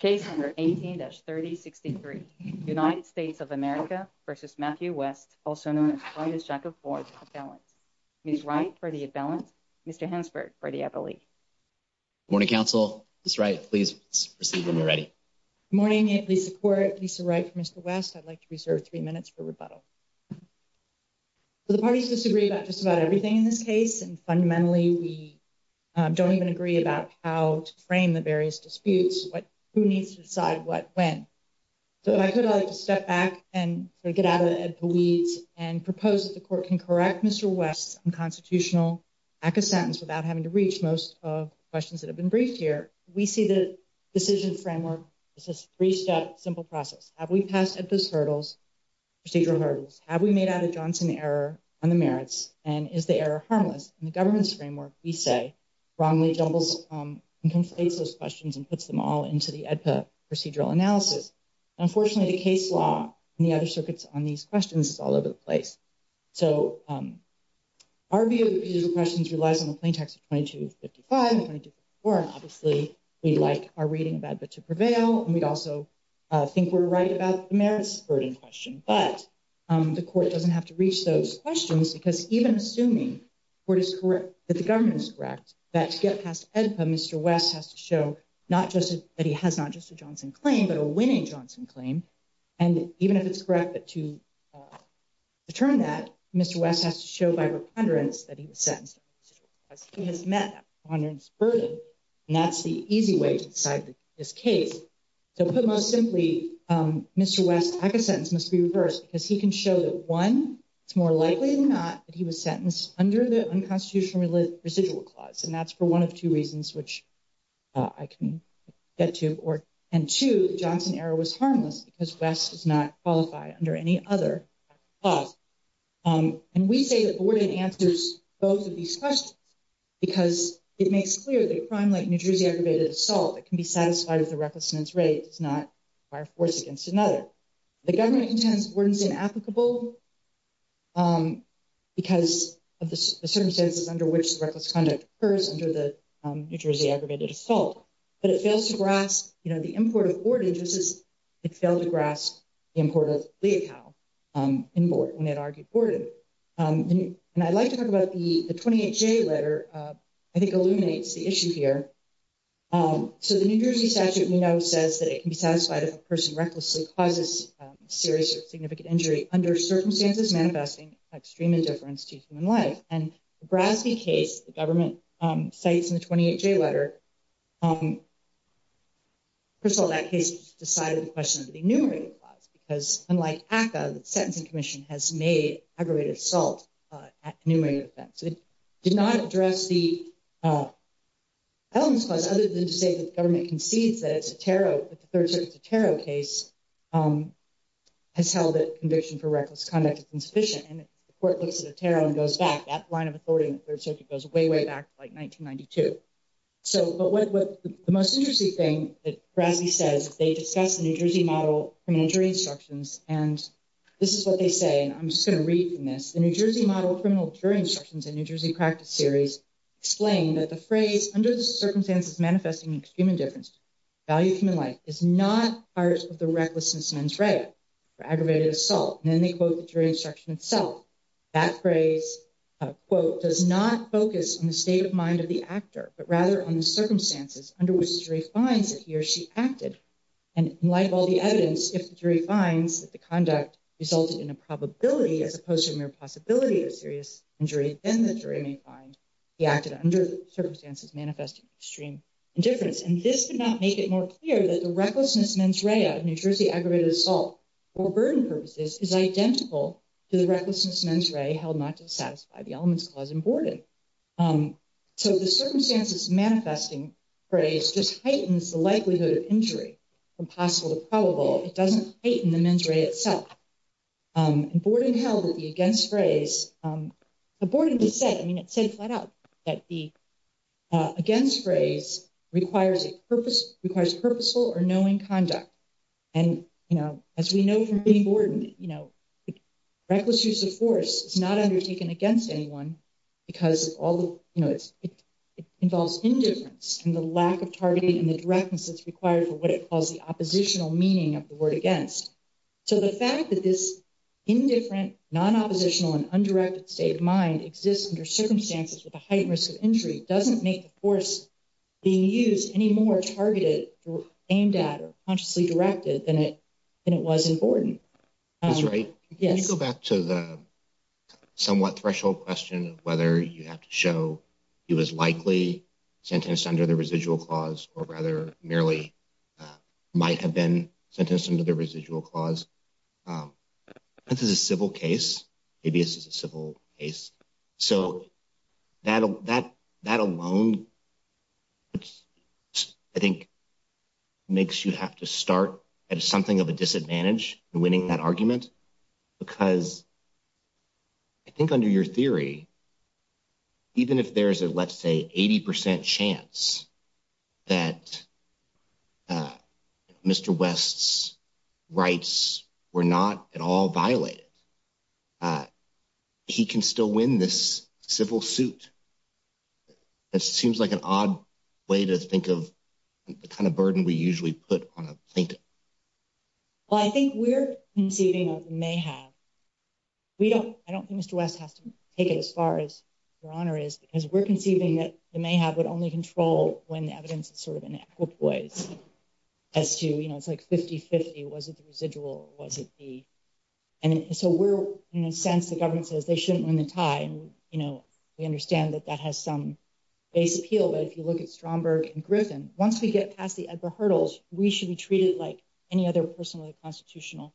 Case number 18-3063, United States of America v. Matthew West, also known as Clyde S. Jacob Ford, for the imbalance. Ms. Wright, for the imbalance. Mr. Hansberg, for the appellee. Good morning, counsel. Ms. Wright, please proceed when you're ready. Good morning. I support Lisa Wright v. Mr. West. I'd like to reserve three minutes for rebuttal. The parties disagree about just about everything in this case, and fundamentally we don't even agree about how to frame the various disputes, who needs to decide what, when. So if I could, I'd like to step back and get out of the weeds and propose that the court can correct Mr. West's unconstitutional lack of sentence without having to reach most of the questions that have been briefed here. We see the decision framework as a three-step, simple process. Have we passed EDPA's hurdles, procedural hurdles? Have we made out a Johnson error on the merits, and is the error harmless? And the government's framework, we say, wrongly jumbles and conflates those questions and puts them all into the EDPA procedural analysis. Unfortunately, the case law and the other circuits on these questions is all over the place. So our view of procedural questions relies on the plain text of 2255 and 2254, and obviously we like our reading of that, but to prevail, and we also think we're right about the merits burden question. But the court doesn't have to reach those questions because even assuming the court is correct, that the government is correct, that to get past EDPA, Mr. West has to show not just that he has not just a Johnson claim, but a winning Johnson claim. And even if it's correct, but to determine that, Mr. West has to show by reconderance that he was sentenced. He has met that reconderance burden, and that's the easy way to decide this case. So put most simply, Mr. West's sentence must be reversed because he can show that, one, it's more likely than not that he was sentenced under the unconstitutional residual clause, and that's for one of two reasons, which I can get to. And two, the Johnson error was harmless because West does not qualify under any other clause. And we say that Borden answers both of these questions because it makes clear that a crime like New Jersey aggravated assault that can be satisfied with a reckless sentence rate does not require force against another. The government intends Borden's inapplicable because of the circumstances under which the reckless conduct occurs under the New Jersey aggravated assault. But it fails to grasp the import of Borden just as it failed to grasp the import of Leachow in Borden when it argued Borden. And I'd like to talk about the 28J letter, I think illuminates the issue here. So the New Jersey statute we know says that it can be satisfied if a person recklessly causes serious or significant injury under circumstances manifesting extreme indifference to human life. And the Brasby case, the government cites in the 28J letter, first of all, that case decided the question of the enumerated clause because unlike ACCA, the Sentencing Commission has made aggravated assault an enumerated offense. So it did not address the elements clause other than to say that the government concedes that it's a tarot, that the Third Circuit's a tarot case has held that conviction for reckless conduct is insufficient. And if the court looks at a tarot and goes back, that line of authority in the Third Circuit goes way, way back to like 1992. So, but what the most interesting thing that Brasby says, they discuss the New Jersey model, criminal jury instructions, and this is what they say. And I'm just going to read from this. The New Jersey model of criminal jury instructions in New Jersey practice series explain that the phrase, under the circumstances manifesting extreme indifference to the value of human life, is not part of the recklessness mens rea for aggravated assault. And then they quote the jury instruction itself. That phrase, quote, does not focus on the state of mind of the actor, but rather on the circumstances under which the jury finds that he or she acted. And in light of all the evidence, if the jury finds that the conduct resulted in a probability as opposed to a mere possibility of serious injury, then the jury may find he acted under circumstances manifesting extreme indifference. And this did not make it more clear that the recklessness mens rea of New Jersey aggravated assault for burden purposes is identical to the recklessness mens rea held not to satisfy the elements clause in Borden. So, the circumstances manifesting phrase just heightens the likelihood of injury from possible to probable. It doesn't heighten the mens rea itself. And Borden held that the against phrase, Borden said, I mean, it said flat out that the against phrase requires purposeful or knowing conduct. And, you know, as we know from Borden, you know, reckless use of force is not undertaken against anyone because all of, you know, it involves indifference and the lack of targeting and the directness that's required for what it calls the oppositional meaning of the word against. So, the fact that this indifferent, non-oppositional and undirected state of mind exists under circumstances with a heightened risk of injury doesn't make the force being used any more targeted or aimed at or consciously directed than it was in Borden. That's right. Can you go back to the somewhat threshold question of whether you have to show he was likely sentenced under the residual clause or rather merely might have been sentenced under the residual clause? This is a civil case. So, that alone, I think, makes you have to start at something of a disadvantage in winning that argument because I think under your theory, even if there's a, let's say, 80 percent chance that Mr. West's rights were not at all violated. He can still win this civil suit. It seems like an odd way to think of the kind of burden we usually put on a plaintiff. Well, I think we're conceiving of mayhave. We don't, I don't think Mr. West has to take it as far as your honor is because we're conceiving that the mayhave would only control when the evidence is sort of an equipoise as to, you know, it's like 50-50, was it the residual or was it the, and so we're, in a sense, the government says they shouldn't win the tie. We understand that that has some base appeal, but if you look at Stromberg and Griffin, once we get past the hurdles, we should be treated like any other person with a constitutional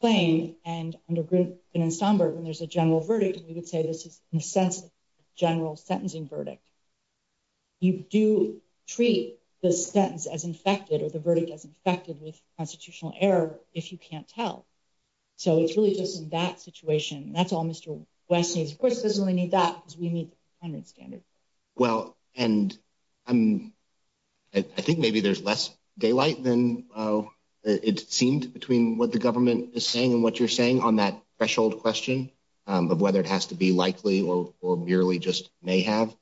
claim and under Griffin and Stromberg, when there's a general verdict, we would say this is, in a sense, a general sentencing verdict. You do treat the sentence as infected or the verdict as infected with constitutional error if you can't tell. So it's really just in that situation. That's all Mr. West needs. Of course, he doesn't really need that because we need the standard. Well, and I'm, I think maybe there's less daylight than it seemed between what the government is saying and what you're saying on that threshold question of whether it has to be likely or merely just mayhave.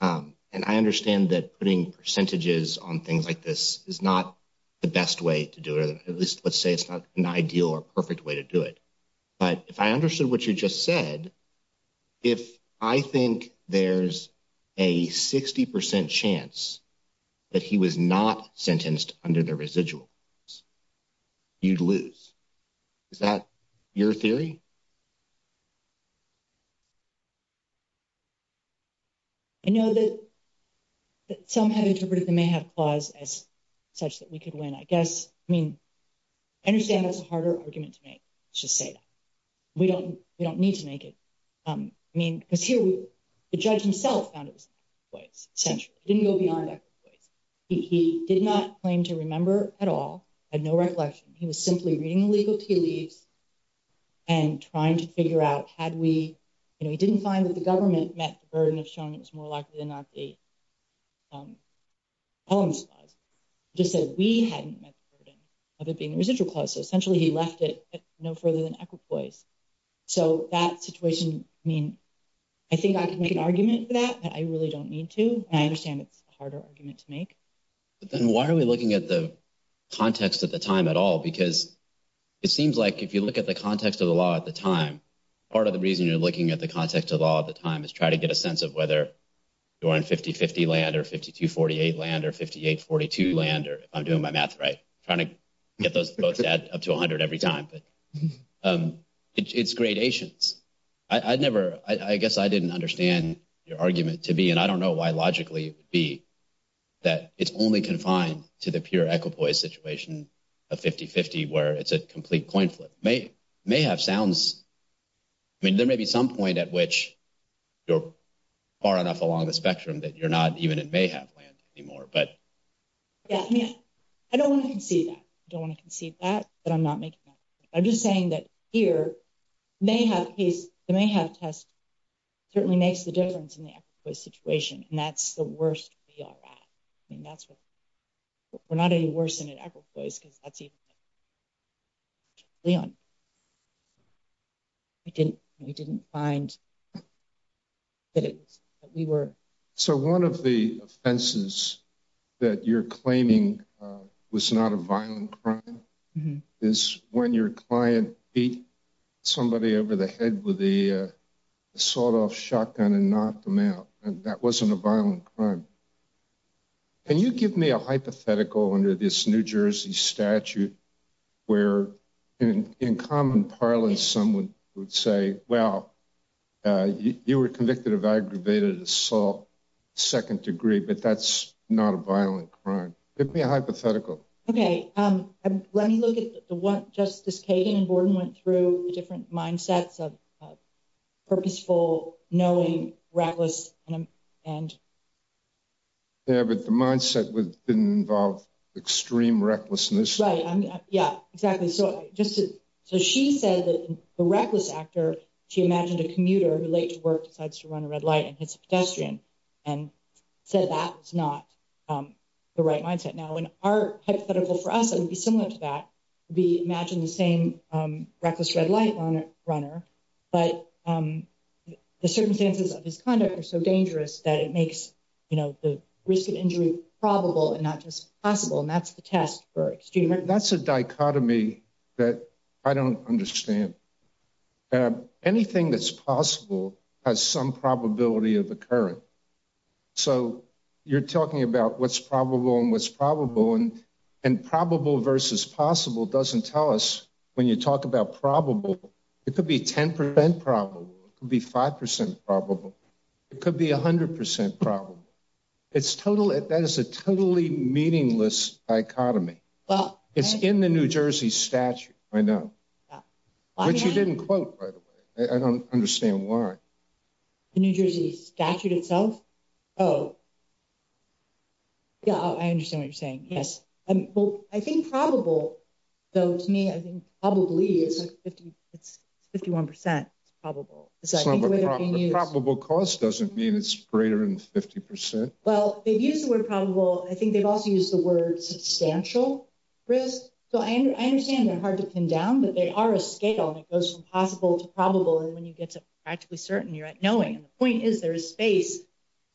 And I understand that putting percentages on things like this is not the best way to do it, or at least let's say it's not an ideal or perfect way to do it. But if I understood what you just said, if I think there's a 60% chance that he was not sentenced under the residual, you'd lose. Is that your theory? I know that some have interpreted the mayhave clause as such that we could win, I guess. I mean, I understand that's a harder argument to make. Let's just say that. We don't need to make it. I mean, because here, the judge himself found it was an active voice, essentially. It didn't go beyond active voice. He did not claim to remember at all, had no recollection. He was simply reading the legal tea leaves and trying to figure out, had we, you know, he didn't find that the government met the burden of showing it was more likely than not the columns clause. He just said we hadn't met the burden of it being a residual clause, so essentially he left it no further than active voice. So that situation, I mean, I think I can make an argument for that, but I really don't need to, and I understand it's a harder argument to make. Then why are we looking at the context at the time at all? Because it seems like if you look at the context of the law at the time, part of the reason you're looking at the context of the law at the time is try to get a sense of whether you're on 50-50 land or 52-48 land or 58-42 land, if I'm doing my math right. I'm trying to get those votes up to 100 every time, but it's gradations. I guess I didn't understand your argument to be, and I don't know why logically it would be, that it's only confined to the pure equipoise situation of 50-50 where it's a complete coin flip. Mayhav sounds, I mean, there may be some point at which you're far enough along the spectrum that you're not even in Mayhav land anymore. Yeah, I mean, I don't want to concede that, but I'm not making that argument. I'm just saying that here, the Mayhav test certainly makes the difference in the equipoise situation, and that's the worst we are at. I mean, we're not any worse than at equipoise because that's even better. We didn't find that we were… So one of the offenses that you're claiming was not a violent crime is when your client beat somebody over the head with a sawed-off shotgun and knocked them out, and that wasn't a violent crime. Can you give me a hypothetical under this New Jersey statute where, in common parlance, someone would say, well, you were convicted of aggravated assault, second degree, but that's not a violent crime. Give me a hypothetical. Okay. Let me look at what Justice Kagan and Borden went through, the different mindsets of purposeful, knowing, reckless, and… Yeah, but the mindset didn't involve extreme recklessness. Right. Yeah, exactly. So she said that the reckless actor, she imagined a commuter who, late to work, decides to run a red light and hits a pedestrian, and said that was not the right mindset. Now, in our hypothetical for us, it would be similar to that. We imagine the same reckless red light runner, but the circumstances of his conduct are so dangerous that it makes the risk of injury probable and not just possible, and that's the test for extreme recklessness. That's a dichotomy that I don't understand. Anything that's possible has some probability of occurring. So you're talking about what's probable and what's probable, and probable versus possible doesn't tell us when you talk about probable. It could be 10% probable. It could be 5% probable. It could be 100% probable. That is a totally meaningless dichotomy. It's in the New Jersey statute, I know, which you didn't quote, by the way. I don't understand why. The New Jersey statute itself? Oh. Yeah, I understand what you're saying. Yes. Well, I think probable, though, to me, I think probably is 51% probable. Probable cost doesn't mean it's greater than 50%. Well, they've used the word probable. I think they've also used the word substantial risk. So I understand they're hard to pin down, but they are a scale, and it goes from possible to probable, and when you get to practically certain, you're at knowing. And the point is there is space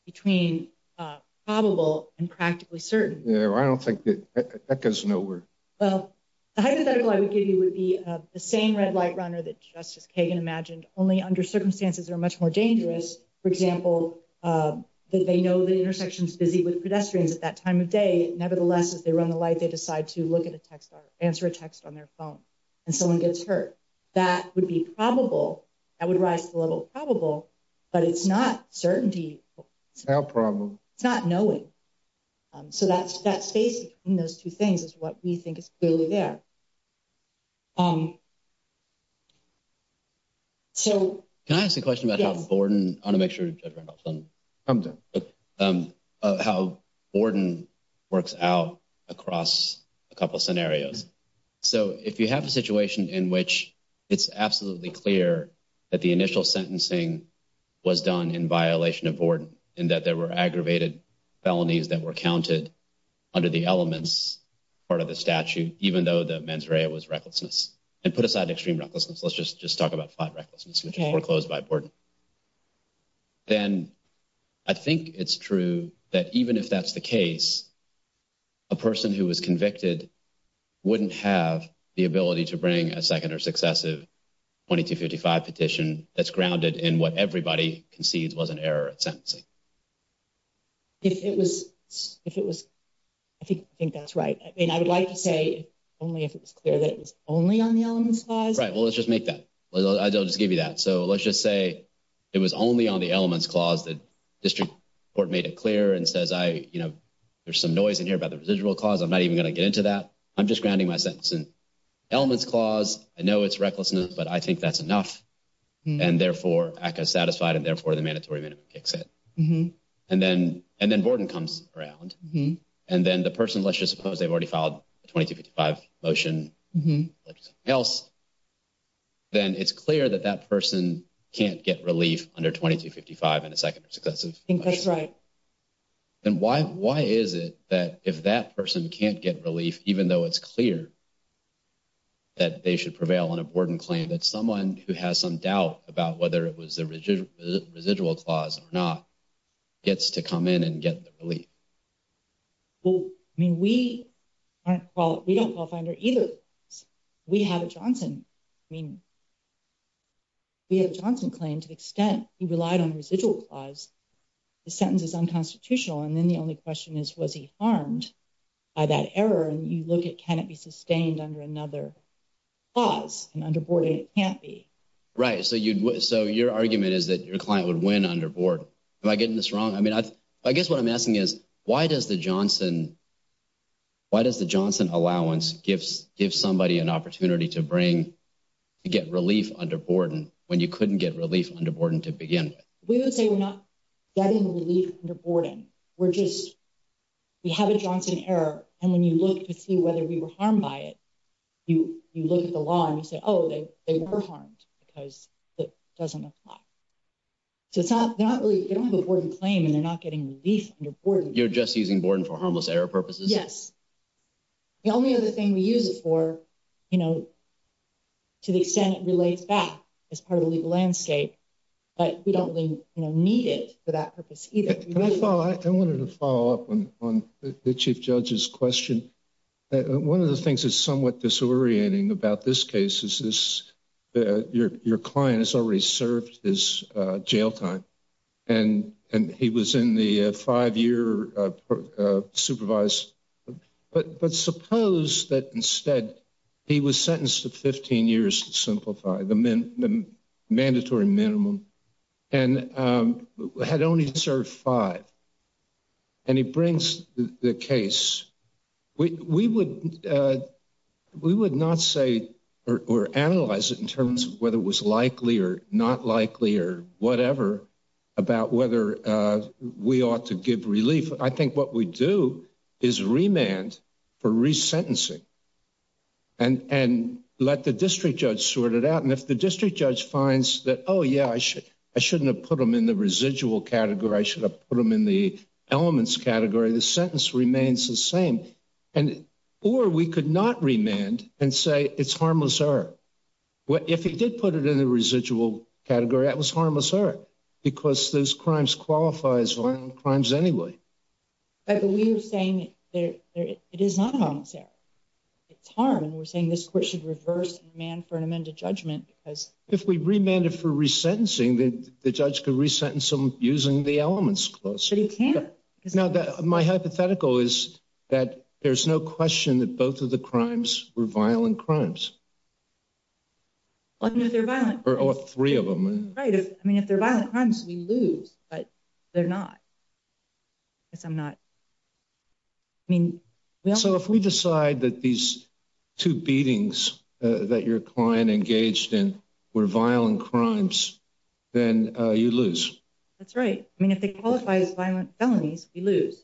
between probable and practically certain. Yeah, I don't think that goes nowhere. Well, the hypothetical I would give you would be the same red light runner that Justice Kagan imagined, only under circumstances that are much more dangerous. For example, that they know the intersection is busy with pedestrians at that time of day. Nevertheless, as they run the light, they decide to look at a text or answer a text on their phone, and someone gets hurt. That would be probable. That would rise to the level of probable, but it's not certainty. It's not probable. It's not knowing. So that space between those two things is what we think is clearly there. Can I ask a question about how Borden works out across a couple of scenarios? So if you have a situation in which it's absolutely clear that the initial sentencing was done in violation of Borden, in that there were aggravated felonies that were counted under the elements part of the statute, even though the mens rea was recklessness, and put aside extreme recklessness, let's just talk about flat recklessness, which is foreclosed by Borden. Then I think it's true that even if that's the case, a person who was convicted wouldn't have the ability to bring a second or successive 2255 petition that's grounded in what everybody concedes was an error at sentencing. I think that's right. I would like to say only if it's clear that it was only on the elements clause. Right. Well, let's just make that. I'll just give you that. So let's just say it was only on the elements clause that district court made it clear and says there's some noise in here about the residual clause. I'm not even going to get into that. I'm just grounding my sentencing. Elements clause, I know it's recklessness, but I think that's enough, and therefore ACCA is satisfied, and therefore the mandatory minimum kicks in. And then Borden comes around, and then the person, let's just suppose they've already filed a 2255 motion, then it's clear that that person can't get relief under 2255 and a second or successive motion. I think that's right. Then why is it that if that person can't get relief, even though it's clear that they should prevail on a Borden claim, that someone who has some doubt about whether it was a residual clause or not gets to come in and get the relief? Well, I mean, we aren't qualified. We don't qualify under either. We have Johnson. I mean, we have a Johnson claim to the extent he relied on residual clause. The sentence is unconstitutional, and then the only question is was he harmed by that error? And you look at can it be sustained under another clause, and under Borden it can't be. Right, so your argument is that your client would win under Borden. Am I getting this wrong? I mean, I guess what I'm asking is why does the Johnson allowance give somebody an opportunity to get relief under Borden when you couldn't get relief under Borden to begin with? We would say we're not getting relief under Borden. We have a Johnson error, and when you look to see whether we were harmed by it, you look at the law and you say, oh, they were harmed because it doesn't apply. So they don't have a Borden claim, and they're not getting relief under Borden. You're just using Borden for harmless error purposes? Yes. The only other thing we use it for, to the extent it relates back as part of the legal landscape, but we don't really need it for that purpose either. Can I follow? I wanted to follow up on the Chief Judge's question. One of the things that's somewhat disorienting about this case is your client has already served his jail time, and he was in the five-year supervised. But suppose that instead he was sentenced to 15 years to simplify, the mandatory minimum, and had only served five, and he brings the case. We would not say or analyze it in terms of whether it was likely or not likely or whatever about whether we ought to give relief. I think what we do is remand for resentencing and let the district judge sort it out. And if the district judge finds that, oh, yeah, I shouldn't have put him in the residual category. I should have put him in the elements category. The sentence remains the same. Or we could not remand and say it's harmless error. If he did put it in the residual category, that was harmless error because those crimes qualify as violent crimes anyway. But we are saying it is not a harmless error. It's harm, and we're saying this court should reverse and remand for an amended judgment. If we remanded for resentencing, the judge could resentence him using the elements clause. But he can't. Now, my hypothetical is that there's no question that both of the crimes were violent crimes. Only if they're violent. Or three of them. Right. I mean, if they're violent crimes, we lose. But they're not. So if we decide that these two beatings that your client engaged in were violent crimes, then you lose. That's right. I mean, if they qualify as violent felonies, we lose.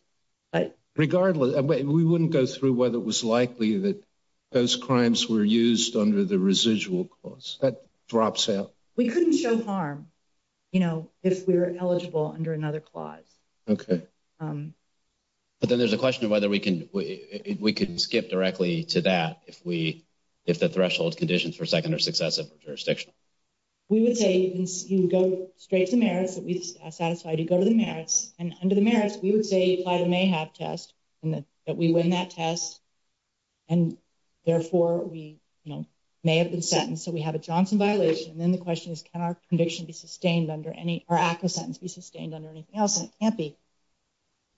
But regardless, we wouldn't go through whether it was likely that those crimes were used under the residual clause. That drops out. We couldn't show harm, you know, if we were eligible under another clause. Okay. But then there's a question of whether we can skip directly to that if the threshold conditions for second are successive or jurisdictional. We would say you go straight to the merits that we satisfy. You go to the merits. And under the merits, we would say you apply the may have test and that we win that test. And therefore, we may have been sentenced. So we have a Johnson violation. And then the question is, can our conviction be sustained under any sentence be sustained under anything else? And it can't be.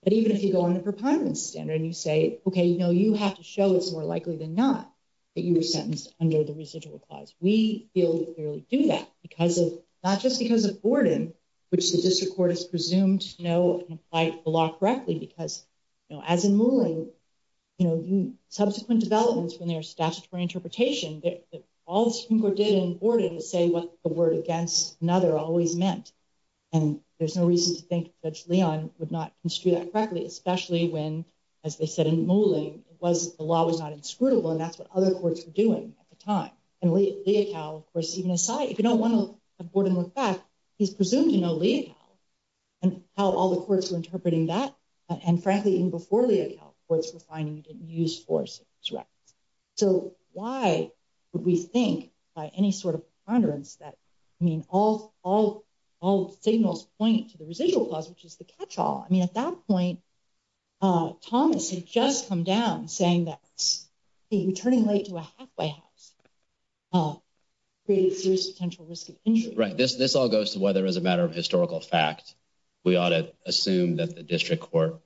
But even if you go on the preponderance standard and you say, okay, you know, you have to show it's more likely than not that you were sentenced under the residual clause. We clearly do that because of not just because of Borden, which the district court is presumed, you know, by the law correctly. Because, you know, as in Moulin, you know, subsequent developments from their statutory interpretation, all the Supreme Court did in Borden was say what the word against another always meant. And there's no reason to think Judge Leon would not construe that correctly, especially when, as they said in Moulin, the law was not inscrutable. And that's what other courts were doing at the time. And Leocal, of course, even aside, if you don't want to have Borden look back, he's presumed to know Leocal. And how all the courts were interpreting that. And frankly, even before Leocal, courts were finding you didn't use force. So why would we think by any sort of preponderance that, I mean, all signals point to the residual clause, which is the catch-all. I mean, at that point, Thomas had just come down saying that returning late to a halfway house created serious potential risk of injury. Right. This all goes to whether as a matter of historical fact, we ought to assume that the district court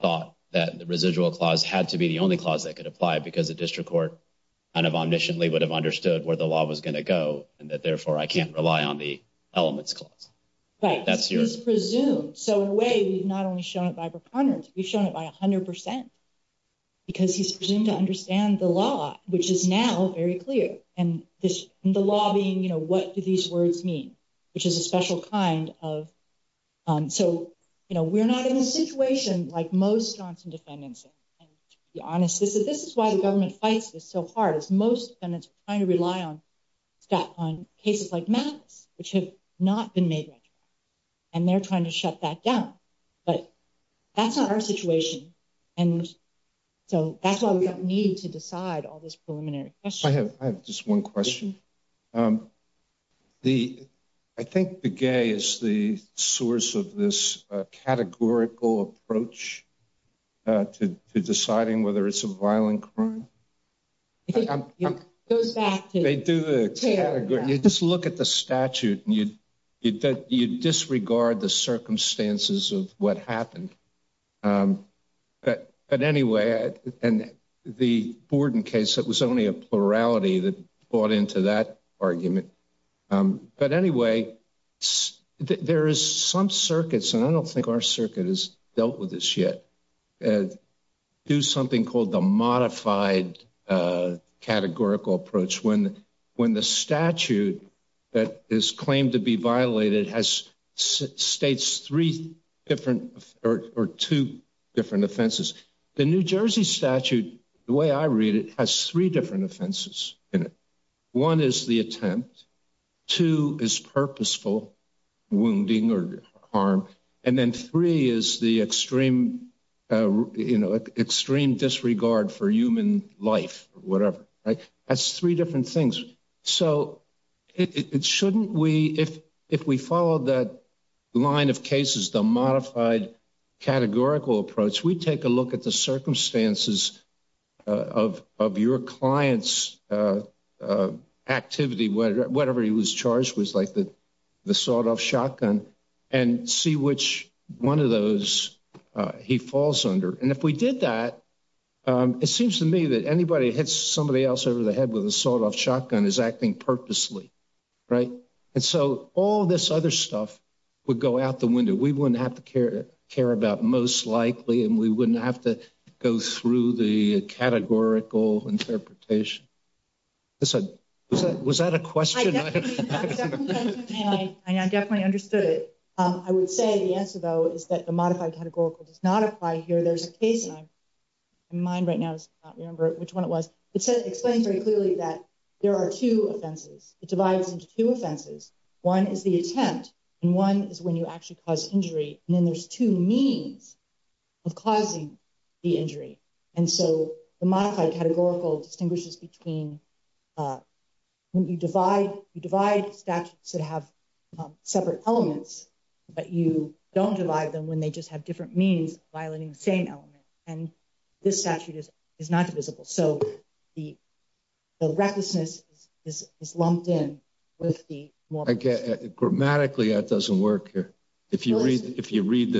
thought that the residual clause had to be the only clause that could apply because the district court kind of omnisciently would have understood where the law was going to go. And that, therefore, I can't rely on the elements clause. Right. That's presumed. So in a way, we've not only shown it by preponderance, we've shown it by 100%. Because he's presumed to understand the law, which is now very clear. And the law being, you know, what do these words mean? Which is a special kind of... So, you know, we're not in a situation like most Johnson defendants. And to be honest, this is why the government fights this so hard, is most defendants are trying to rely on cases like Mattis, which have not been made retroactive. And they're trying to shut that down. But that's not our situation. And so that's why we don't need to decide all this preliminary question. I have just one question. I think the gay is the source of this categorical approach to deciding whether it's a violent crime. It goes back to... You just look at the statute and you disregard the circumstances of what happened. But anyway, and the Borden case, it was only a plurality that bought into that argument. But anyway, there is some circuits, and I don't think our circuit has dealt with this yet, do something called the modified categorical approach. When the statute that is claimed to be violated states three different or two different offenses. The New Jersey statute, the way I read it, has three different offenses in it. One is the attempt. Two is purposeful wounding or harm. And then three is the extreme disregard for human life, whatever. That's three different things. So shouldn't we, if we follow that line of cases, the modified categorical approach, we take a look at the circumstances of your client's activity, whatever he was charged with, like the sawed-off shotgun, and see which one of those he falls under. And if we did that, it seems to me that anybody that hits somebody else over the head with a sawed-off shotgun is acting purposely, right? And so all this other stuff would go out the window. We wouldn't have to care about most likely, and we wouldn't have to go through the categorical interpretation. Was that a question? I definitely understood it. I would say the answer, though, is that the modified categorical does not apply here. There's a case, and mine right now does not remember which one it was. It explains very clearly that there are two offenses. It divides into two offenses. One is the attempt, and one is when you actually cause injury. And then there's two means of causing the injury. And so the modified categorical distinguishes between when you divide statutes that have separate elements, but you don't divide them when they just have different means violating the same element. And this statute is not divisible. So the recklessness is lumped in with the moral. Grammatically, that doesn't work here. If you read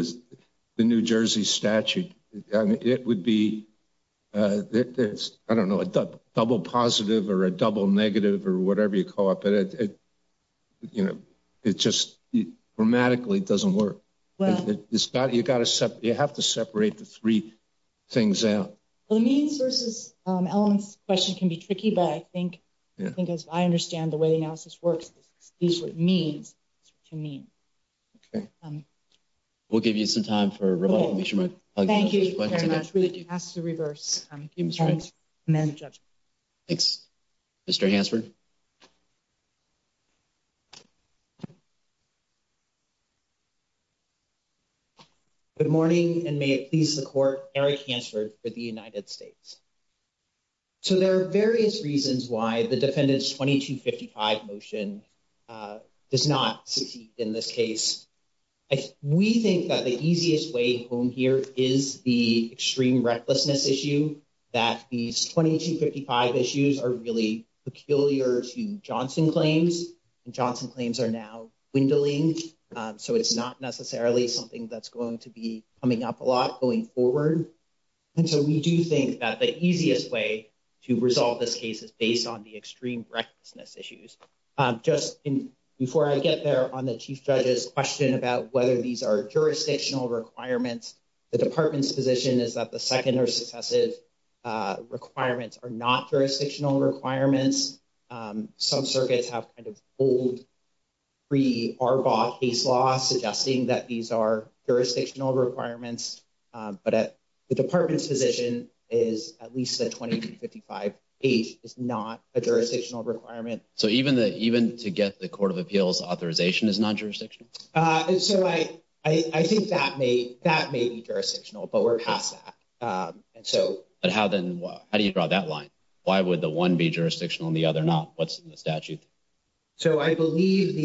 the New Jersey statute, it would be, I don't know, a double positive or a double negative or whatever you call it, but it just grammatically doesn't work. You have to separate the three things out. The means versus elements question can be tricky, but I think as I understand the way the analysis works, this is what means is what you mean. Okay. We'll give you some time for rebuttal. Thank you very much. We'll pass to reverse. Thank you, Mr. Hanks. Mr. Hansford. Good morning, and may it please the Court, Eric Hansford for the United States. So there are various reasons why the defendant's 2255 motion does not succeed in this case. We think that the easiest way home here is the extreme recklessness issue, that these 2255 issues are really peculiar to Johnson claims, and Johnson claims are now dwindling. So it's not necessarily something that's going to be coming up a lot going forward. And so we do think that the easiest way to resolve this case is based on the extreme recklessness issues. Just before I get there on the chief judge's question about whether these are jurisdictional requirements, the department's position is that the second or successive requirements are not jurisdictional requirements. Some circuits have kind of old, pre-ARBOT case law suggesting that these are jurisdictional requirements, but the department's position is at least that 2255H is not a jurisdictional requirement. So even to get the Court of Appeals authorization is not jurisdictional? So I think that may be jurisdictional, but we're past that. But how do you draw that line? Why would the one be jurisdictional and the other not? What's in the statute? So I believe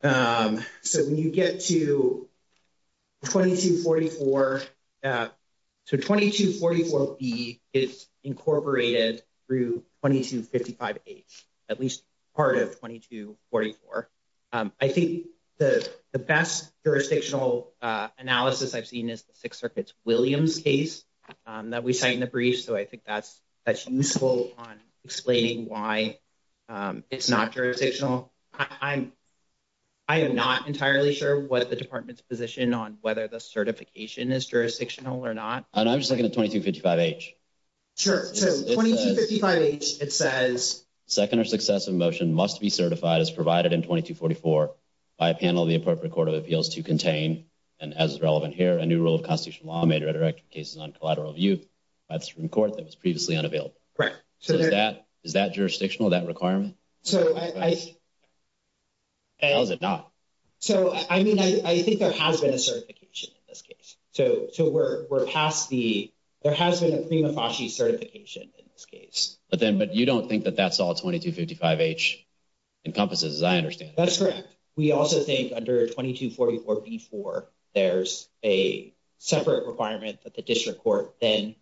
the, so when you get to 2244, so 2244B is incorporated through 2255H, at least part of 2244. I think the best jurisdictional analysis I've seen is the Sixth Circuit's Williams case that we cite in the brief. So I think that's useful on explaining why it's not jurisdictional. I am not entirely sure what the department's position on whether the certification is jurisdictional or not. And I'm just looking at 2255H. Sure, so 2255H, it says, Second or successive motion must be certified as provided in 2244 by a panel of the appropriate Court of Appeals to contain, and as is relevant here, a new rule of constitutional law may redirect cases on collateral view. That's from court that was previously unavailable. Correct. So is that jurisdictional, that requirement? So I, How is it not? So I mean, I think there has been a certification in this case. So we're past the, there has been a prima facie certification in this case. But then, but you don't think that that's all 2255H encompasses, as I understand it. That's correct. We also think under 2244B4, there's a separate requirement that the district court then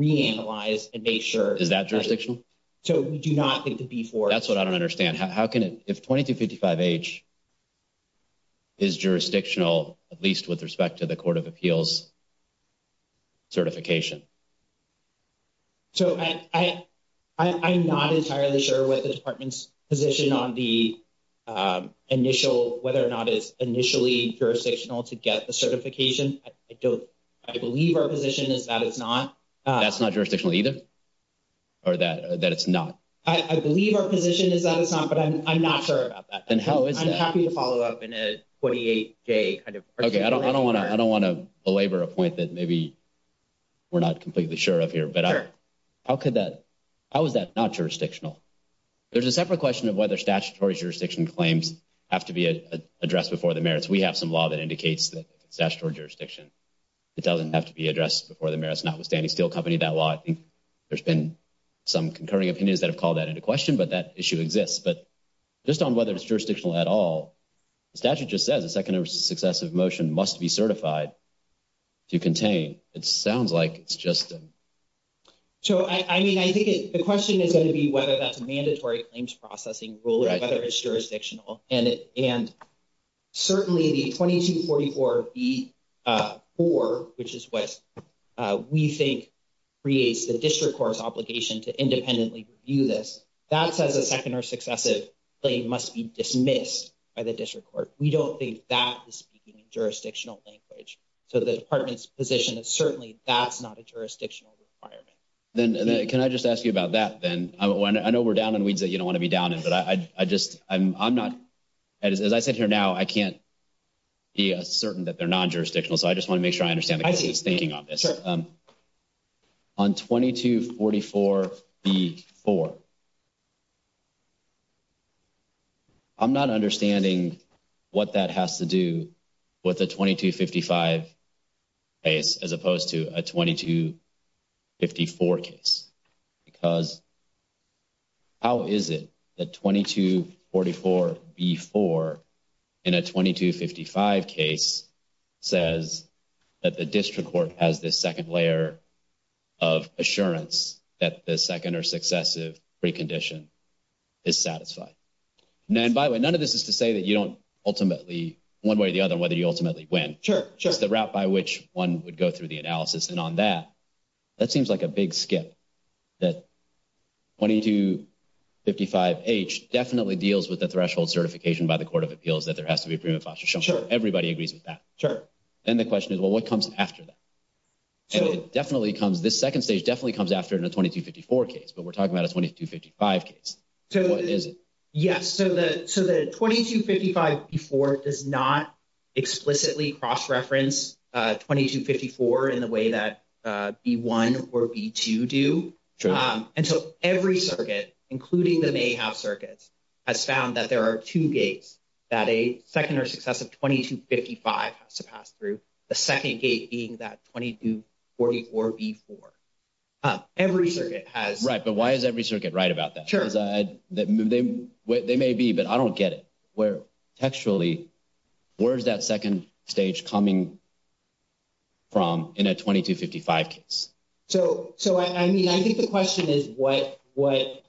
reanalyze and make sure. Is that jurisdictional? So we do not think the B4. That's what I don't understand. How can it, if 2255H is jurisdictional, at least with respect to the Court of Appeals certification. So I'm not entirely sure what the department's position on the initial, whether or not it's initially jurisdictional to get the certification. I don't, I believe our position is that it's not. That's not jurisdictional either? Or that it's not? I believe our position is that it's not, but I'm not sure about that. Then how is that? I'm happy to follow up in a 48-day kind of question. Okay, I don't want to belabor a point that maybe we're not completely sure of here. But how could that, how is that not jurisdictional? There's a separate question of whether statutory jurisdiction claims have to be addressed before the merits. We have some law that indicates that it's statutory jurisdiction. It doesn't have to be addressed before the merits, notwithstanding Steel Company, that law. I think there's been some concurring opinions that have called that into question, but that issue exists. But just on whether it's jurisdictional at all, the statute just says a second or successive motion must be certified to contain. It sounds like it's just. So, I mean, I think the question is going to be whether that's a mandatory claims processing rule or whether it's jurisdictional. And certainly the 2244-B-4, which is what we think creates the district court's obligation to independently review this, that says a second or successive claim must be dismissed by the district court. We don't think that is speaking in jurisdictional language. So the department's position is certainly that's not a jurisdictional requirement. Can I just ask you about that then? I know we're down on weeds that you don't want to be down in, but I just, I'm not, as I sit here now, I can't be certain that they're non-jurisdictional. So I just want to make sure I understand the case's thinking on this. On 2244-B-4, I'm not understanding what that has to do with a 2255 case as opposed to a 2254 case. Because how is it that 2244-B-4 in a 2255 case says that the district court has this second layer of assurance that the second or successive precondition is satisfied? And by the way, none of this is to say that you don't ultimately, one way or the other, whether you ultimately win. It's the route by which one would go through the analysis. And on that, that seems like a big skip. That 2255-H definitely deals with the threshold certification by the Court of Appeals that there has to be a premium of foster care. Everybody agrees with that. Then the question is, well, what comes after that? And it definitely comes, this second stage definitely comes after the 2254 case, but we're talking about a 2255 case. What is it? Yes, so the 2255-B-4 does not explicitly cross-reference 2254 in the way that B-1 or B-2 do. And so every circuit, including the Mayhav circuits, has found that there are two gates that a second or successive 2255 has to pass through, the second gate being that 2244-B-4. Every circuit has. Right, but why is every circuit right about that? They may be, but I don't get it. Textually, where is that second stage coming from in a 2255 case? So, I mean, I think the question is what, when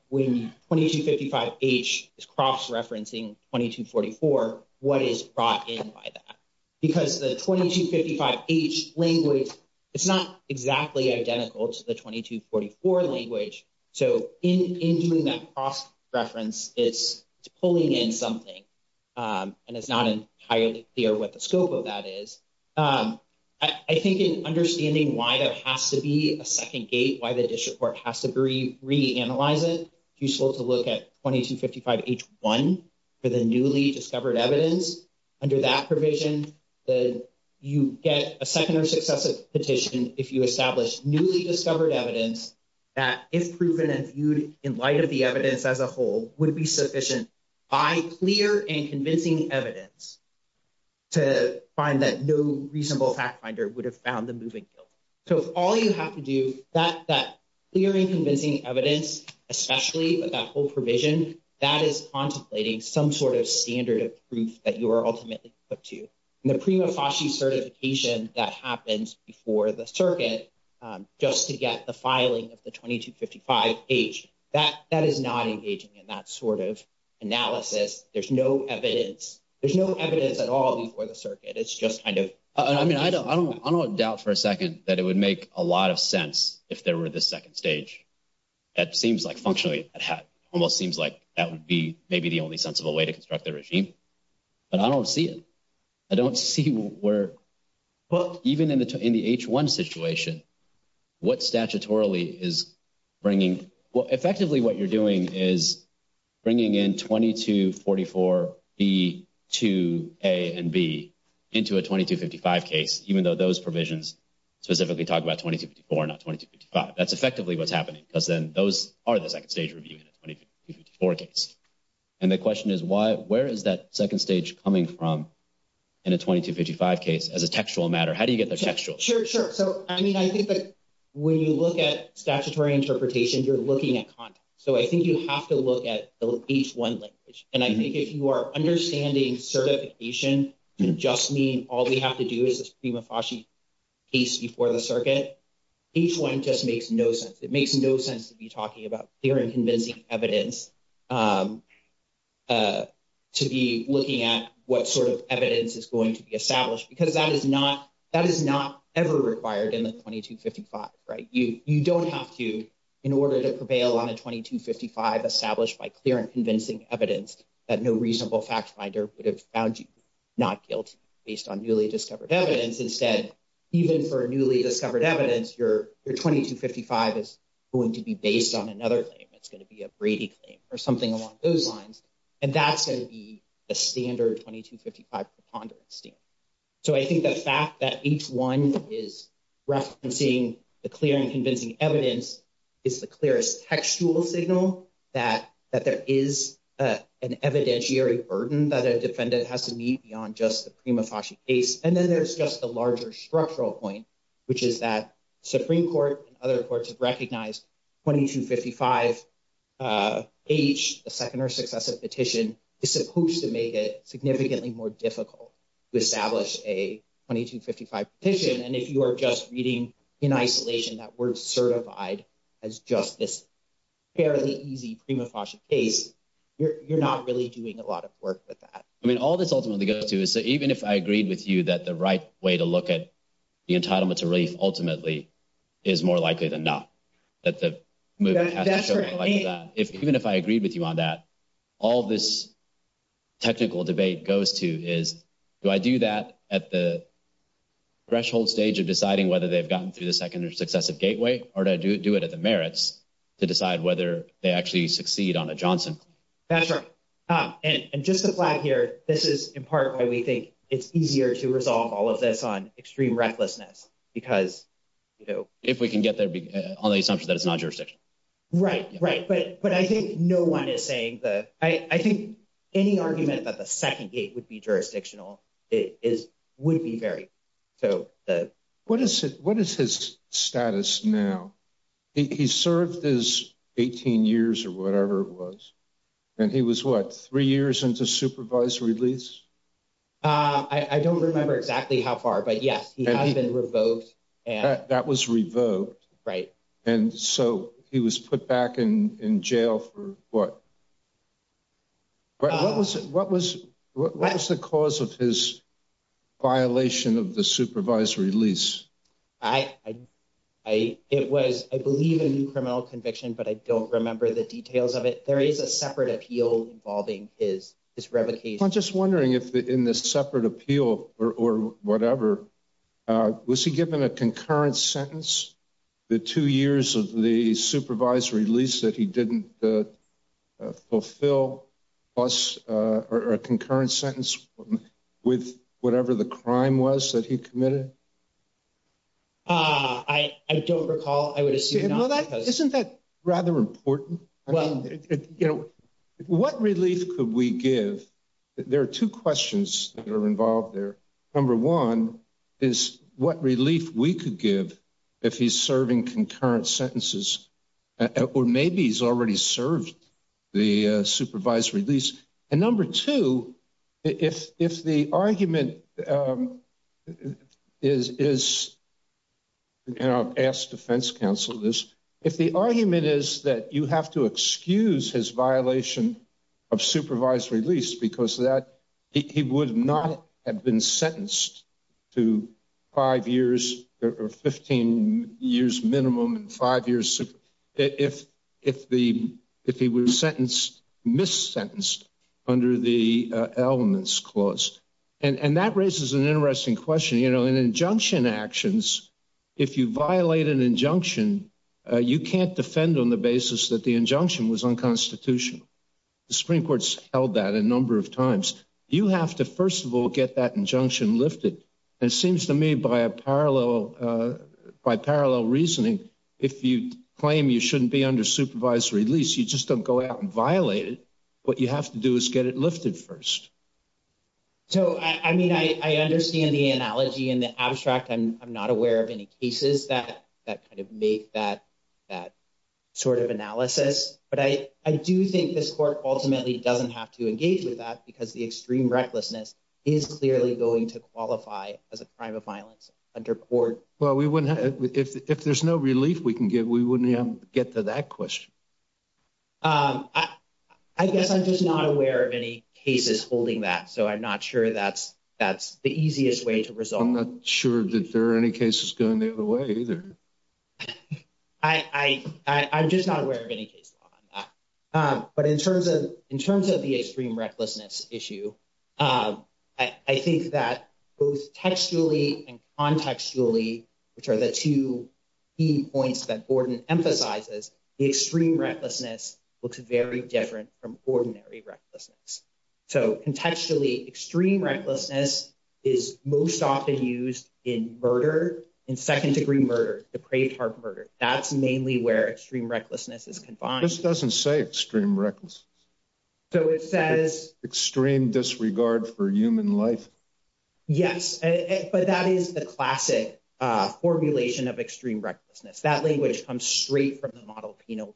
2255-H is cross-referencing 2244, what is brought in by that? Because the 2255-H language, it's not exactly identical to the 2244 language. So in doing that cross-reference, it's pulling in something, and it's not entirely clear what the scope of that is. I think in understanding why there has to be a second gate, why the district court has to reanalyze it, it's useful to look at 2255-H-1 for the newly discovered evidence. Under that provision, you get a second or successive petition if you establish newly discovered evidence that, if proven and viewed in light of the evidence as a whole, would be sufficient by clear and convincing evidence to find that no reasonable fact finder would have found the moving guilt. So if all you have to do, that clear and convincing evidence, especially with that whole provision, that is contemplating some sort of standard of proof that you are ultimately put to. And the prima facie certification that happens before the circuit just to get the filing of the 2255-H, that is not engaging in that sort of analysis. There's no evidence. There's no evidence at all before the circuit. I don't doubt for a second that it would make a lot of sense if there were this second stage. It seems like, functionally, it almost seems like that would be maybe the only sensible way to construct the regime, but I don't see it. I don't see where, even in the H-1 situation, what statutorily is bringing, effectively what you're doing is bringing in 2244-B to A and B into a 2255 case, even though those provisions specifically talk about 2254, not 2255. That's effectively what's happening, because then those are the second stage review in a 2254 case. And the question is, where is that second stage coming from in a 2255 case as a textual matter? How do you get the textual? Sure, sure. So, I mean, I think that when you look at statutory interpretation, you're looking at context. So I think you have to look at the H-1 language. And I think if you are understanding certification to just mean all we have to do is this prima facie case before the circuit, H-1 just makes no sense. It makes no sense to be talking about clear and convincing evidence, to be looking at what sort of evidence is going to be established, because that is not ever required in the 2255, right? You don't have to, in order to prevail on a 2255 established by clear and convincing evidence that no reasonable fact finder would have found you not guilty based on newly discovered evidence. Instead, even for newly discovered evidence, your 2255 is going to be based on another claim. It's going to be a Brady claim or something along those lines. And that's going to be the standard 2255 preponderance standard. So I think the fact that H-1 is referencing the clear and convincing evidence is the clearest textual signal that there is an evidentiary burden that a defendant has to meet beyond just the prima facie case. And then there's just a larger structural point, which is that Supreme Court and other courts have recognized 2255H, the second or successive petition, is supposed to make it significantly more difficult to establish a 2255 petition. And if you are just reading in isolation that word certified as just this fairly easy prima facie case, you're not really doing a lot of work with that. I mean, all this ultimately goes to is that even if I agreed with you that the right way to look at the entitlement to relief ultimately is more likely than not, that the movement has to show more like that. Even if I agreed with you on that, all this technical debate goes to is, do I do that at the threshold stage of deciding whether they've gotten through the second or successive gateway? Or do I do it at the merits to decide whether they actually succeed on a Johnson claim? That's right. And just to flag here, this is in part why we think it's easier to resolve all of this on extreme recklessness, because, you know. If we can get there on the assumption that it's non-jurisdictional. Right, right. But I think no one is saying that. I think any argument that the second gate would be jurisdictional is would be very. What is his status now? He served his 18 years or whatever it was. And he was what, three years into supervisory release? I don't remember exactly how far, but yes, he has been revoked. That was revoked. Right. And so he was put back in jail for what? What was it? What was what was the cause of his violation of the supervisory lease? I, I, it was, I believe, a new criminal conviction, but I don't remember the details of it. There is a separate appeal involving his revocation. I'm just wondering if in this separate appeal or whatever, was he given a concurrent sentence? The two years of the supervisory lease that he didn't fulfill was a concurrent sentence with whatever the crime was that he committed. I don't recall. I would assume. Isn't that rather important? Well, you know, what relief could we give? There are two questions that are involved there. Number one is what relief we could give if he's serving concurrent sentences or maybe he's already served the supervisory lease. And number two, if if the argument is. And I've asked defense counsel this. If the argument is that you have to excuse his violation of supervisory lease because that he would not have been sentenced to five years or 15 years minimum and five years. If if the if he were sentenced, miss sentenced under the elements clause. And that raises an interesting question. You know, an injunction actions. If you violate an injunction, you can't defend on the basis that the injunction was unconstitutional. The Supreme Court's held that a number of times. You have to, first of all, get that injunction lifted. It seems to me by a parallel by parallel reasoning, if you claim you shouldn't be under supervisory lease, you just don't go out and violate it. What you have to do is get it lifted first. So, I mean, I understand the analogy and the abstract. I'm not aware of any cases that that kind of make that that sort of analysis. But I, I do think this court ultimately doesn't have to engage with that because the extreme recklessness is clearly going to qualify as a crime of violence under court. Well, we wouldn't if there's no relief we can get, we wouldn't get to that question. I guess I'm just not aware of any cases holding that. So I'm not sure that's that's the easiest way to resolve. I'm not sure that there are any cases going the other way either. I, I, I'm just not aware of any case law on that. But in terms of in terms of the extreme recklessness issue, I think that both textually and contextually, which are the two key points that Gordon emphasizes the extreme recklessness looks very different from ordinary recklessness. So contextually, extreme recklessness is most often used in murder, in second degree murder, depraved heart murder. That's mainly where extreme recklessness is confined. This doesn't say extreme recklessness. So it says extreme disregard for human life. Yes, but that is the classic formulation of extreme recklessness. That language comes straight from the model, you know,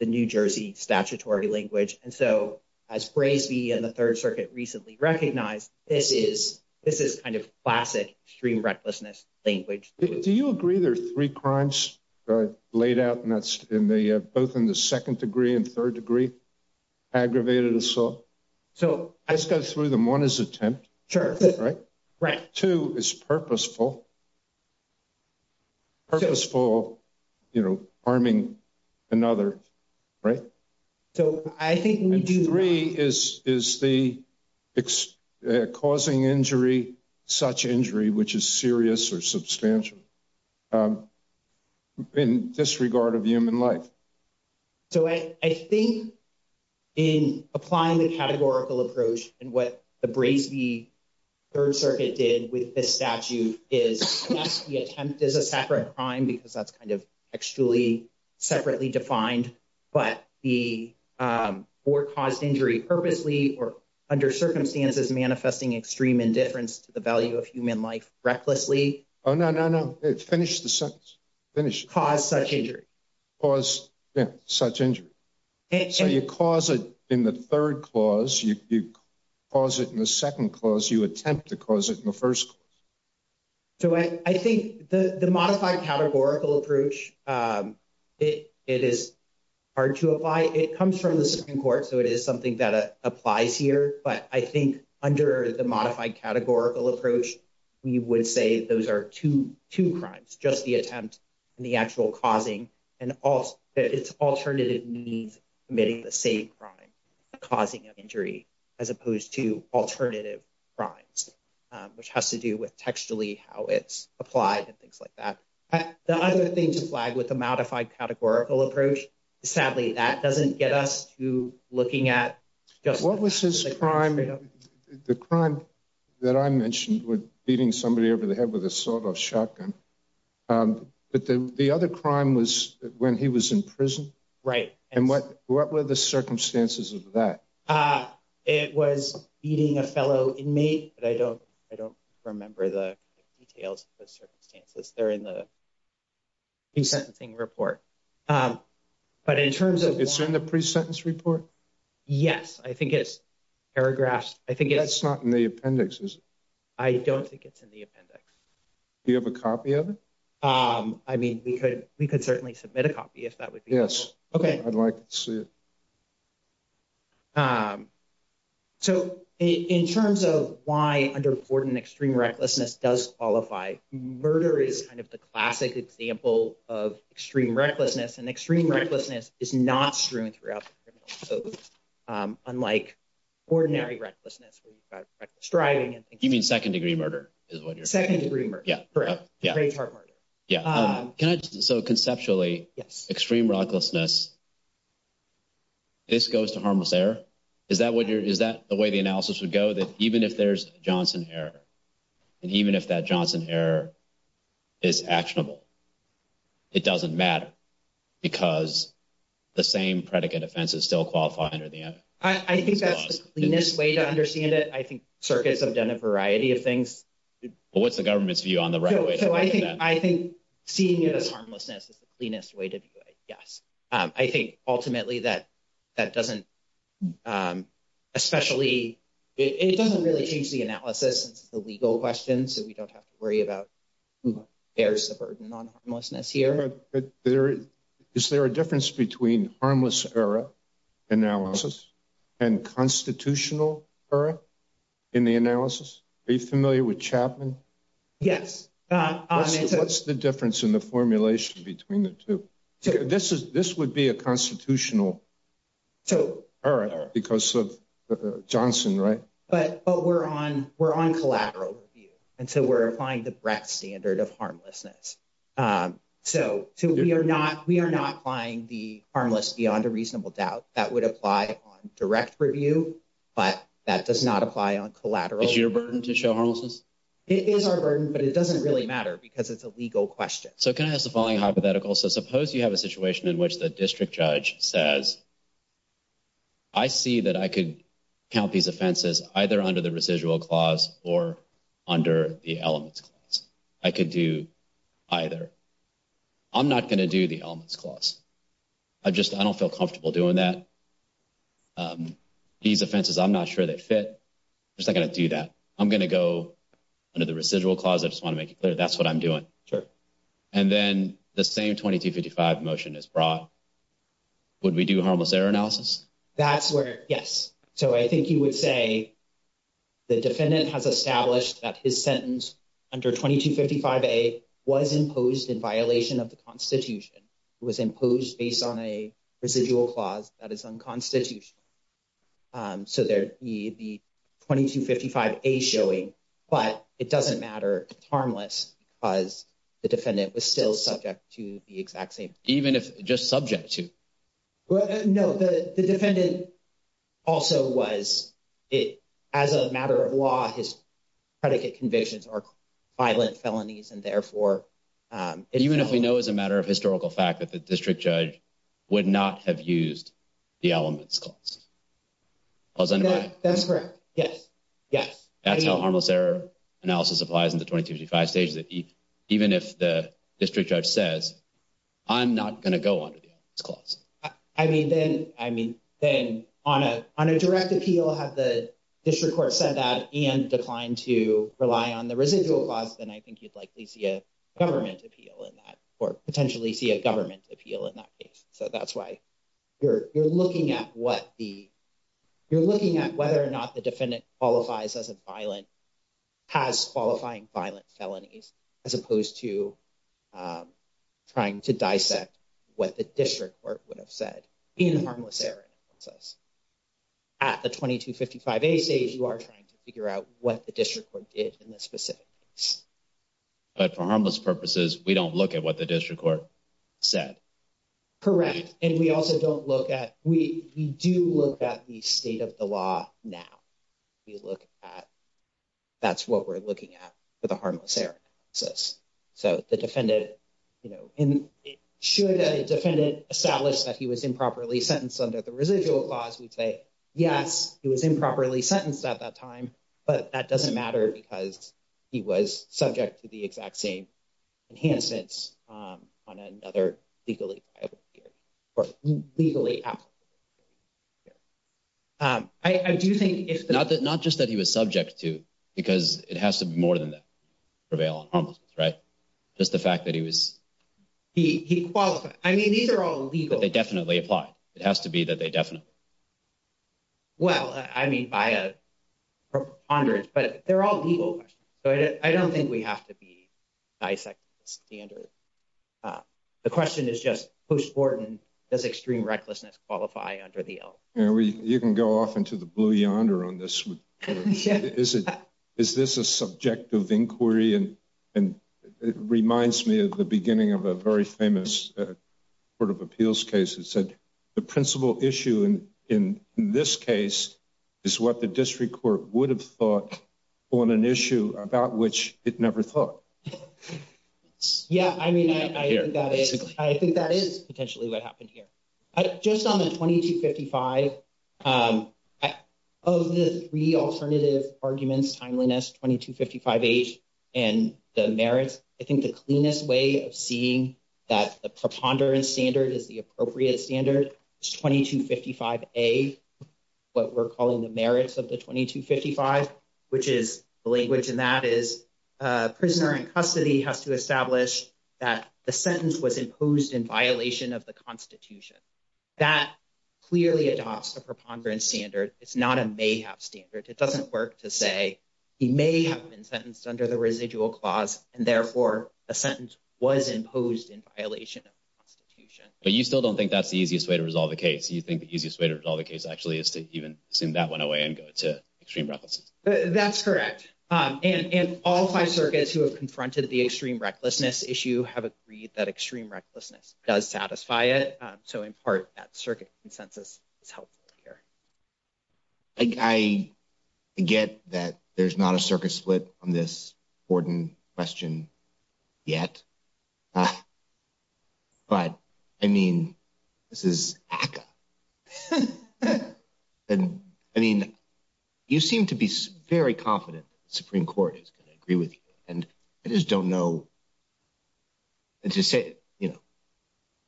the New Jersey statutory language. And so as Braisey and the Third Circuit recently recognized, this is this is kind of classic stream recklessness language. Do you agree there are three crimes laid out and that's in the both in the second degree and third degree aggravated assault? So let's go through them. One is attempt. Sure. Right. Right. Two is purposeful. Purposeful, you know, arming another. Right. So I think three is is the causing injury, such injury, which is serious or substantial in disregard of human life. So I think in applying the categorical approach and what the Braisey Third Circuit did with this statute is the attempt is a separate crime because that's kind of actually separately defined. But the or caused injury purposely or under circumstances manifesting extreme indifference to the value of human life recklessly. Oh, no, no, no. Finish the sentence. Finish. Cause such injury. Cause such injury. So you cause it in the third clause. You cause it in the second clause. You attempt to cause it in the first. So I think the modified categorical approach, it is hard to apply. It comes from the Supreme Court. So it is something that applies here. But I think under the modified categorical approach, we would say those are two, two crimes, just the attempt and the actual causing. And it's alternative means committing the same crime, causing injury as opposed to alternative crimes, which has to do with textually how it's applied and things like that. The other thing to flag with the modified categorical approach, sadly, that doesn't get us to looking at what was his crime. The crime that I mentioned with beating somebody over the head with a sort of shotgun. But the other crime was when he was in prison. Right. And what what were the circumstances of that? It was eating a fellow inmate, but I don't I don't remember the details of the circumstances there in the sentencing report. But in terms of it's in the pre-sentence report. Yes, I think it's paragraphs. I think it's not in the appendix. I don't think it's in the appendix. Do you have a copy of it? I mean, we could we could certainly submit a copy if that would be. Yes. OK, I'd like to see. So in terms of why under important extreme recklessness does qualify, murder is kind of the classic example of extreme recklessness and extreme recklessness is not strewn throughout. Unlike ordinary recklessness, striving and giving second degree murder is what your second degree murder. Yeah. Yeah. Yeah. So conceptually, yes. Extreme recklessness. This goes to harmless error. Is that what you're is that the way the analysis would go that even if there's Johnson here and even if that Johnson here is actionable? It doesn't matter because the same predicate offense is still qualified under the. I think that's the cleanest way to understand it. I think circuits have done a variety of things. What's the government's view on the right? So I think I think seeing it as harmlessness is the cleanest way to do it. Yes. I think ultimately that that doesn't especially it doesn't really change the analysis. The legal questions that we don't have to worry about bears the burden on homelessness here. There is there a difference between harmless error analysis and constitutional error in the analysis? Are you familiar with Chapman? Yes. What's the difference in the formulation between the two? This is this would be a constitutional. So because of Johnson. Right. But we're on we're on collateral. And so we're applying the breadth standard of harmlessness. So we are not we are not applying the harmless beyond a reasonable doubt that would apply on direct review. But that does not apply on collateral. Is your burden to show homelessness? It is our burden, but it doesn't really matter because it's a legal question. So can I ask the following hypothetical? So suppose you have a situation in which the district judge says. I see that I could count these offenses either under the residual clause or under the elements. I could do either. I'm not going to do the elements clause. I just I don't feel comfortable doing that. These offenses, I'm not sure they fit. It's not going to do that. I'm going to go under the residual clause. I just want to make it clear. That's what I'm doing. Sure. And then the same 2255 motion is brought. Would we do harmless error analysis? That's where. Yes. So I think you would say. The defendant has established that his sentence under 2255 a was imposed in violation of the Constitution. It was imposed based on a residual clause that is unconstitutional. So there the 2255 a showing, but it doesn't matter. It's harmless because the defendant was still subject to the exact same even if just subject to. Well, no, the defendant also was it as a matter of law, his predicate convictions are violent felonies. And therefore, even if we know as a matter of historical fact that the district judge would not have used the elements clause. That's correct. Yes. Yes. That's how harmless error analysis applies in the 2255 stage. Even if the district judge says I'm not going to go under the clause. I mean, then I mean, then on a on a direct appeal, have the district court said that and declined to rely on the residual clause? Then I think you'd likely see a government appeal in that or potentially see a government appeal in that case. So that's why you're looking at what the you're looking at, whether or not the defendant qualifies as a violent. Has qualifying violent felonies as opposed to trying to dissect what the district court would have said in harmless error. At the 2255 stage, you are trying to figure out what the district court did in this specific. But for harmless purposes, we don't look at what the district court said. Correct. And we also don't look at we do look at the state of the law. Now. You look at that's what we're looking at for the harmless error. So the defendant, you know, and it showed that a defendant established that he was improperly sentenced under the residual clause. We say, yes, it was improperly sentenced at that time, but that doesn't matter because he was subject to the exact same enhancements on another legally or legally. I do think it's not that not just that he was subject to, because it has to be more than that prevail on. Right. Just the fact that he was he qualified. I mean, these are all legal. They definitely apply. It has to be that they definitely. Well, I mean, I have hundreds, but they're all legal. So I don't think we have to be ISEC standard. The question is just post-mortem, does extreme recklessness qualify under the. You can go off into the blue yonder on this. Is it is this a subjective inquiry? And it reminds me of the beginning of a very famous sort of appeals case. It said the principal issue in this case is what the district court would have thought on an issue about which it never thought. Yeah, I mean, I think that is I think that is potentially what happened here. Just on the twenty two fifty five of the three alternative arguments timeliness, twenty two fifty five age and the merits. I think the cleanest way of seeing that preponderance standard is the appropriate standard. Twenty two fifty five a what we're calling the merits of the twenty two fifty five, which is the language. And that is a prisoner in custody has to establish that the sentence was imposed in violation of the Constitution. That clearly adopts a preponderance standard. It's not a may have standard. It doesn't work to say he may have been sentenced under the residual clause and therefore a sentence was imposed in violation of the Constitution. But you still don't think that's the easiest way to resolve the case. You think the easiest way to resolve the case actually is to even assume that went away and go to extreme. That's correct. And all five circuits who have confronted the extreme recklessness issue have agreed that extreme recklessness does satisfy it. So in part, that circuit consensus is helpful here. I get that there's not a circuit split on this Gordon question yet, but I mean, this is. And I mean, you seem to be very confident Supreme Court is going to agree with you. And I just don't know. And to say, you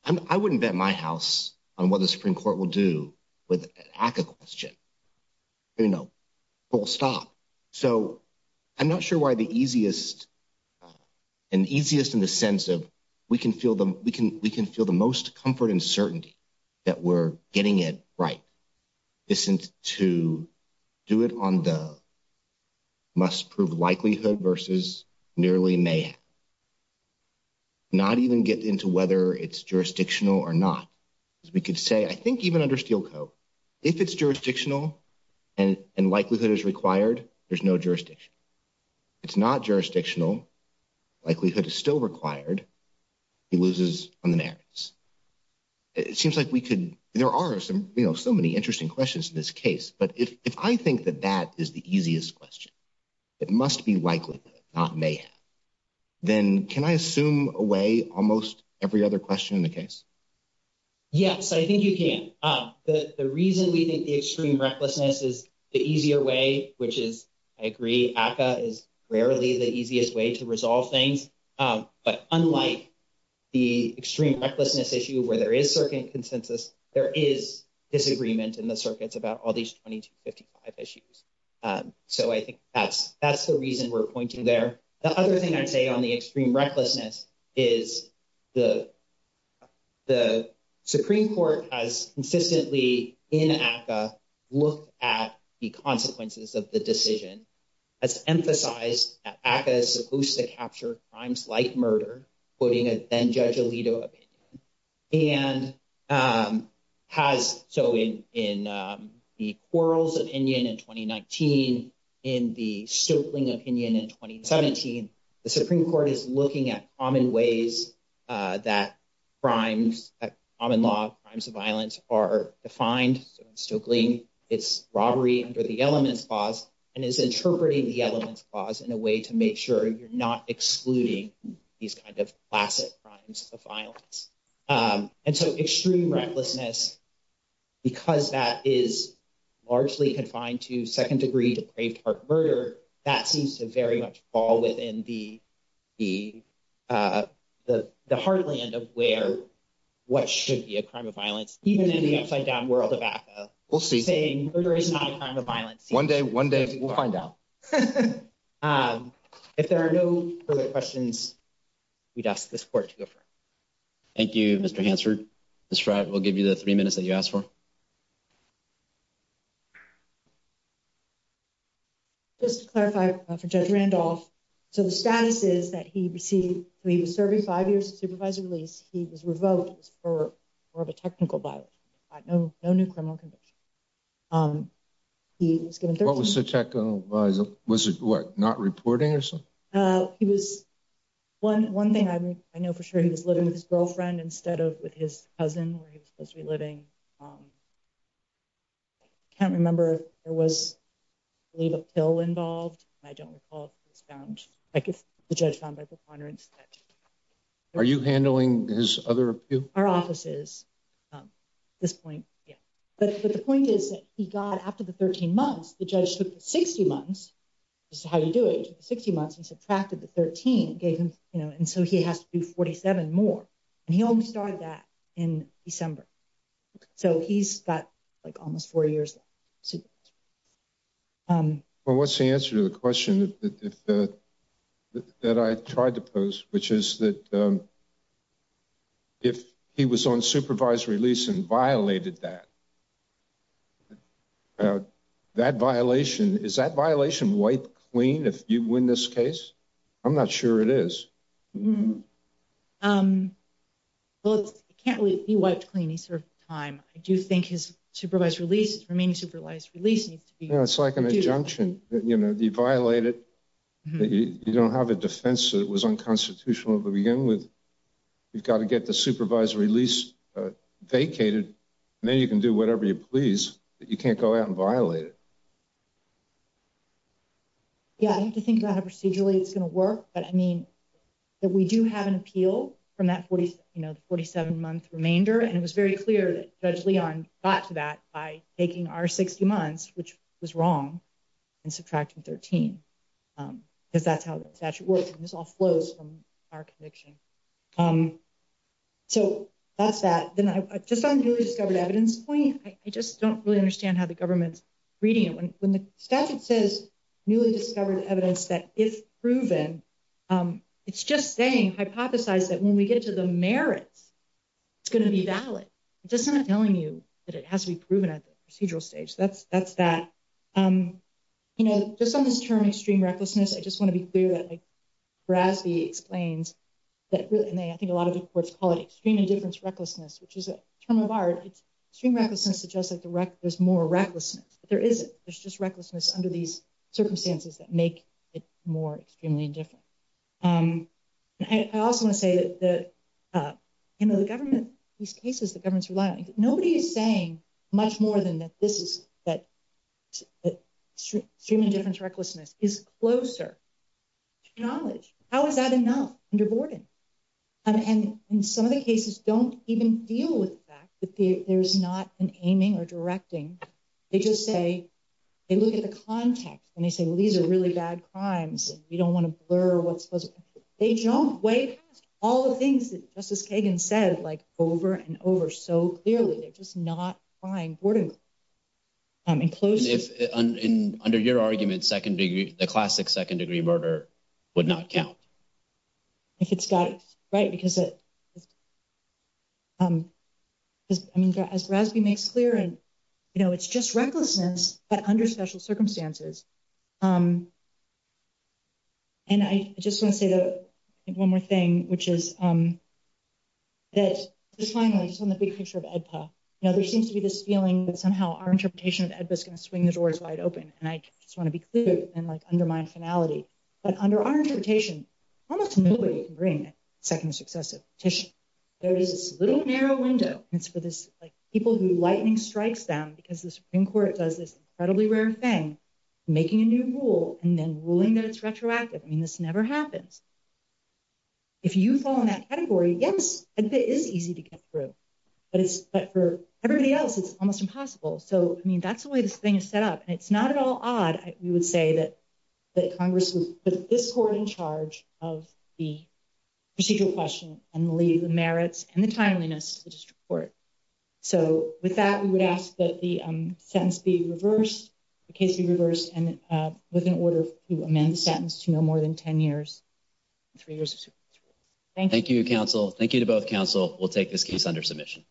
know, I wouldn't bet my house on what the Supreme Court will do with a question, you know, full stop. So I'm not sure why the easiest and easiest in the sense of we can feel the we can we can feel the most comfort and certainty that we're getting it right. Isn't to do it on the must prove likelihood versus nearly may not even get into whether it's jurisdictional or not. As we could say, I think even under Steelco, if it's jurisdictional and likelihood is required, there's no jurisdiction. It's not jurisdictional. Likelihood is still required. He loses on the merits. It seems like we could there are some, you know, so many interesting questions in this case. But if I think that that is the easiest question, it must be likely not may. Then can I assume away almost every other question in the case? Yes, I think you can. The reason we think the extreme recklessness is the easier way, which is, I agree, is rarely the easiest way to resolve things. But unlike the extreme recklessness issue where there is certain consensus, there is disagreement in the circuits about all these 2255 issues. So I think that's that's the reason we're pointing there. The other thing I'd say on the extreme recklessness is the. The Supreme Court has consistently in APA look at the consequences of the decision as emphasized as opposed to capture crimes like murder. Then Judge Alito opinion and has. So in in the quarrels of Indian in 2019, in the stooping opinion in 2017, the Supreme Court is looking at common ways that crimes, common law crimes of violence are defined. So Stokely, it's robbery under the elements clause and is interpreting the elements clause in a way to make sure you're not excluding these kind of classic crimes of violence. And so extreme recklessness, because that is largely confined to second degree, depraved murder, that seems to very much fall within the, the, the heartland of where what should be a crime of violence. Even in the upside down world of saying murder is not a crime of violence. One day, one day, we'll find out if there are no questions. We'd ask the support to go for. Thank you, Mr. Hansford. This will give you the three minutes that you asked for. Just clarify for judge Randolph. So, the status is that he received, we were serving five years supervisor release. He was revoked for, for the technical by no, no new criminal conviction. He was given what was the technical was not reporting or something. He was one. One thing I mean, I know for sure he was living with his girlfriend instead of with his cousin where he was supposed to be living. I can't remember if there was a pill involved. I don't recall. I guess the judge found by preponderance. Are you handling his other our offices? This point, but the point is that he got after the 13 months, the judge took 60 months. How you do it 60 months and subtracted the 13 gave him, you know, and so he has to do 47 more. And he only started that in December. So, he's got like almost four years. Well, what's the answer to the question that I tried to post, which is that if he was on supervisory lease and violated that. That violation is that violation white clean if you win this case. I'm not sure it is. Well, it can't really be wiped clean. He served time. I do think his supervised releases remaining supervised releases. It's like an injunction, you know, the violated. You don't have a defense that was unconstitutional to begin with. You've got to get the supervisory lease vacated. Now, you can do whatever you please, but you can't go out and violate it. Yeah, I have to think about how procedurally it's going to work, but I mean, that we do have an appeal from that 47 month remainder. And it was very clear that judge Leon got to that by taking our 60 months, which was wrong. And subtracting 13, because that's how the statute works and this all flows from our conviction. So, that's that then I just discovered evidence point. I just don't really understand how the government's reading it when the statute says newly discovered evidence that is proven. It's just saying hypothesize that when we get to the merits. It's going to be valid just telling you that it has to be proven at the procedural stage. That's that's that. You know, just on this term, extreme recklessness, I just want to be clear that. Raspi explains that really and they, I think a lot of the courts call it extreme indifference recklessness, which is a term of art. It's just like, there's more recklessness. There is, there's just recklessness under these circumstances that make it more extremely different. I also want to say that, you know, the government, these cases, the government's relying, nobody is saying much more than that. This is that extreme indifference. Recklessness is closer knowledge. How is that enough under boarding? And in some of the cases, don't even deal with the fact that there's not an aiming or directing. They just say, they look at the context and they say, well, these are really bad crimes. We don't want to blur what's they jump way past all the things that Justice Kagan said, like, over and over. So clearly, they're just not fine boarding. I mean, if under your argument, second degree, the classic second degree murder would not count. If it's got, right, because it is, I mean, as Raspi makes clear, and, you know, it's just recklessness, but under special circumstances. And I just want to say that one more thing, which is that this finally is on the big picture of EDPA. You know, there seems to be this feeling that somehow our interpretation of EDPA is going to swing the doors wide open, and I just want to be clear and like undermine finality. But under our interpretation, almost nobody can bring a second successive petition. There is this little narrow window. It's for this, like, people who lightning strikes them because the Supreme Court does this incredibly rare thing, making a new rule and then ruling that it's retroactive. I mean, this never happens. If you fall in that category, yes, EDPA is easy to get through, but for everybody else, it's almost impossible. So, I mean, that's the way this thing is set up, and it's not at all odd. We would say that Congress would put this court in charge of the procedural question and leave the merits and the timeliness to the district court. So, with that, we would ask that the sentence be reversed, the case be reversed, and with an order to amend the sentence to no more than 10 years, three years. Thank you, counsel. Thank you to both counsel. We'll take this case under submission.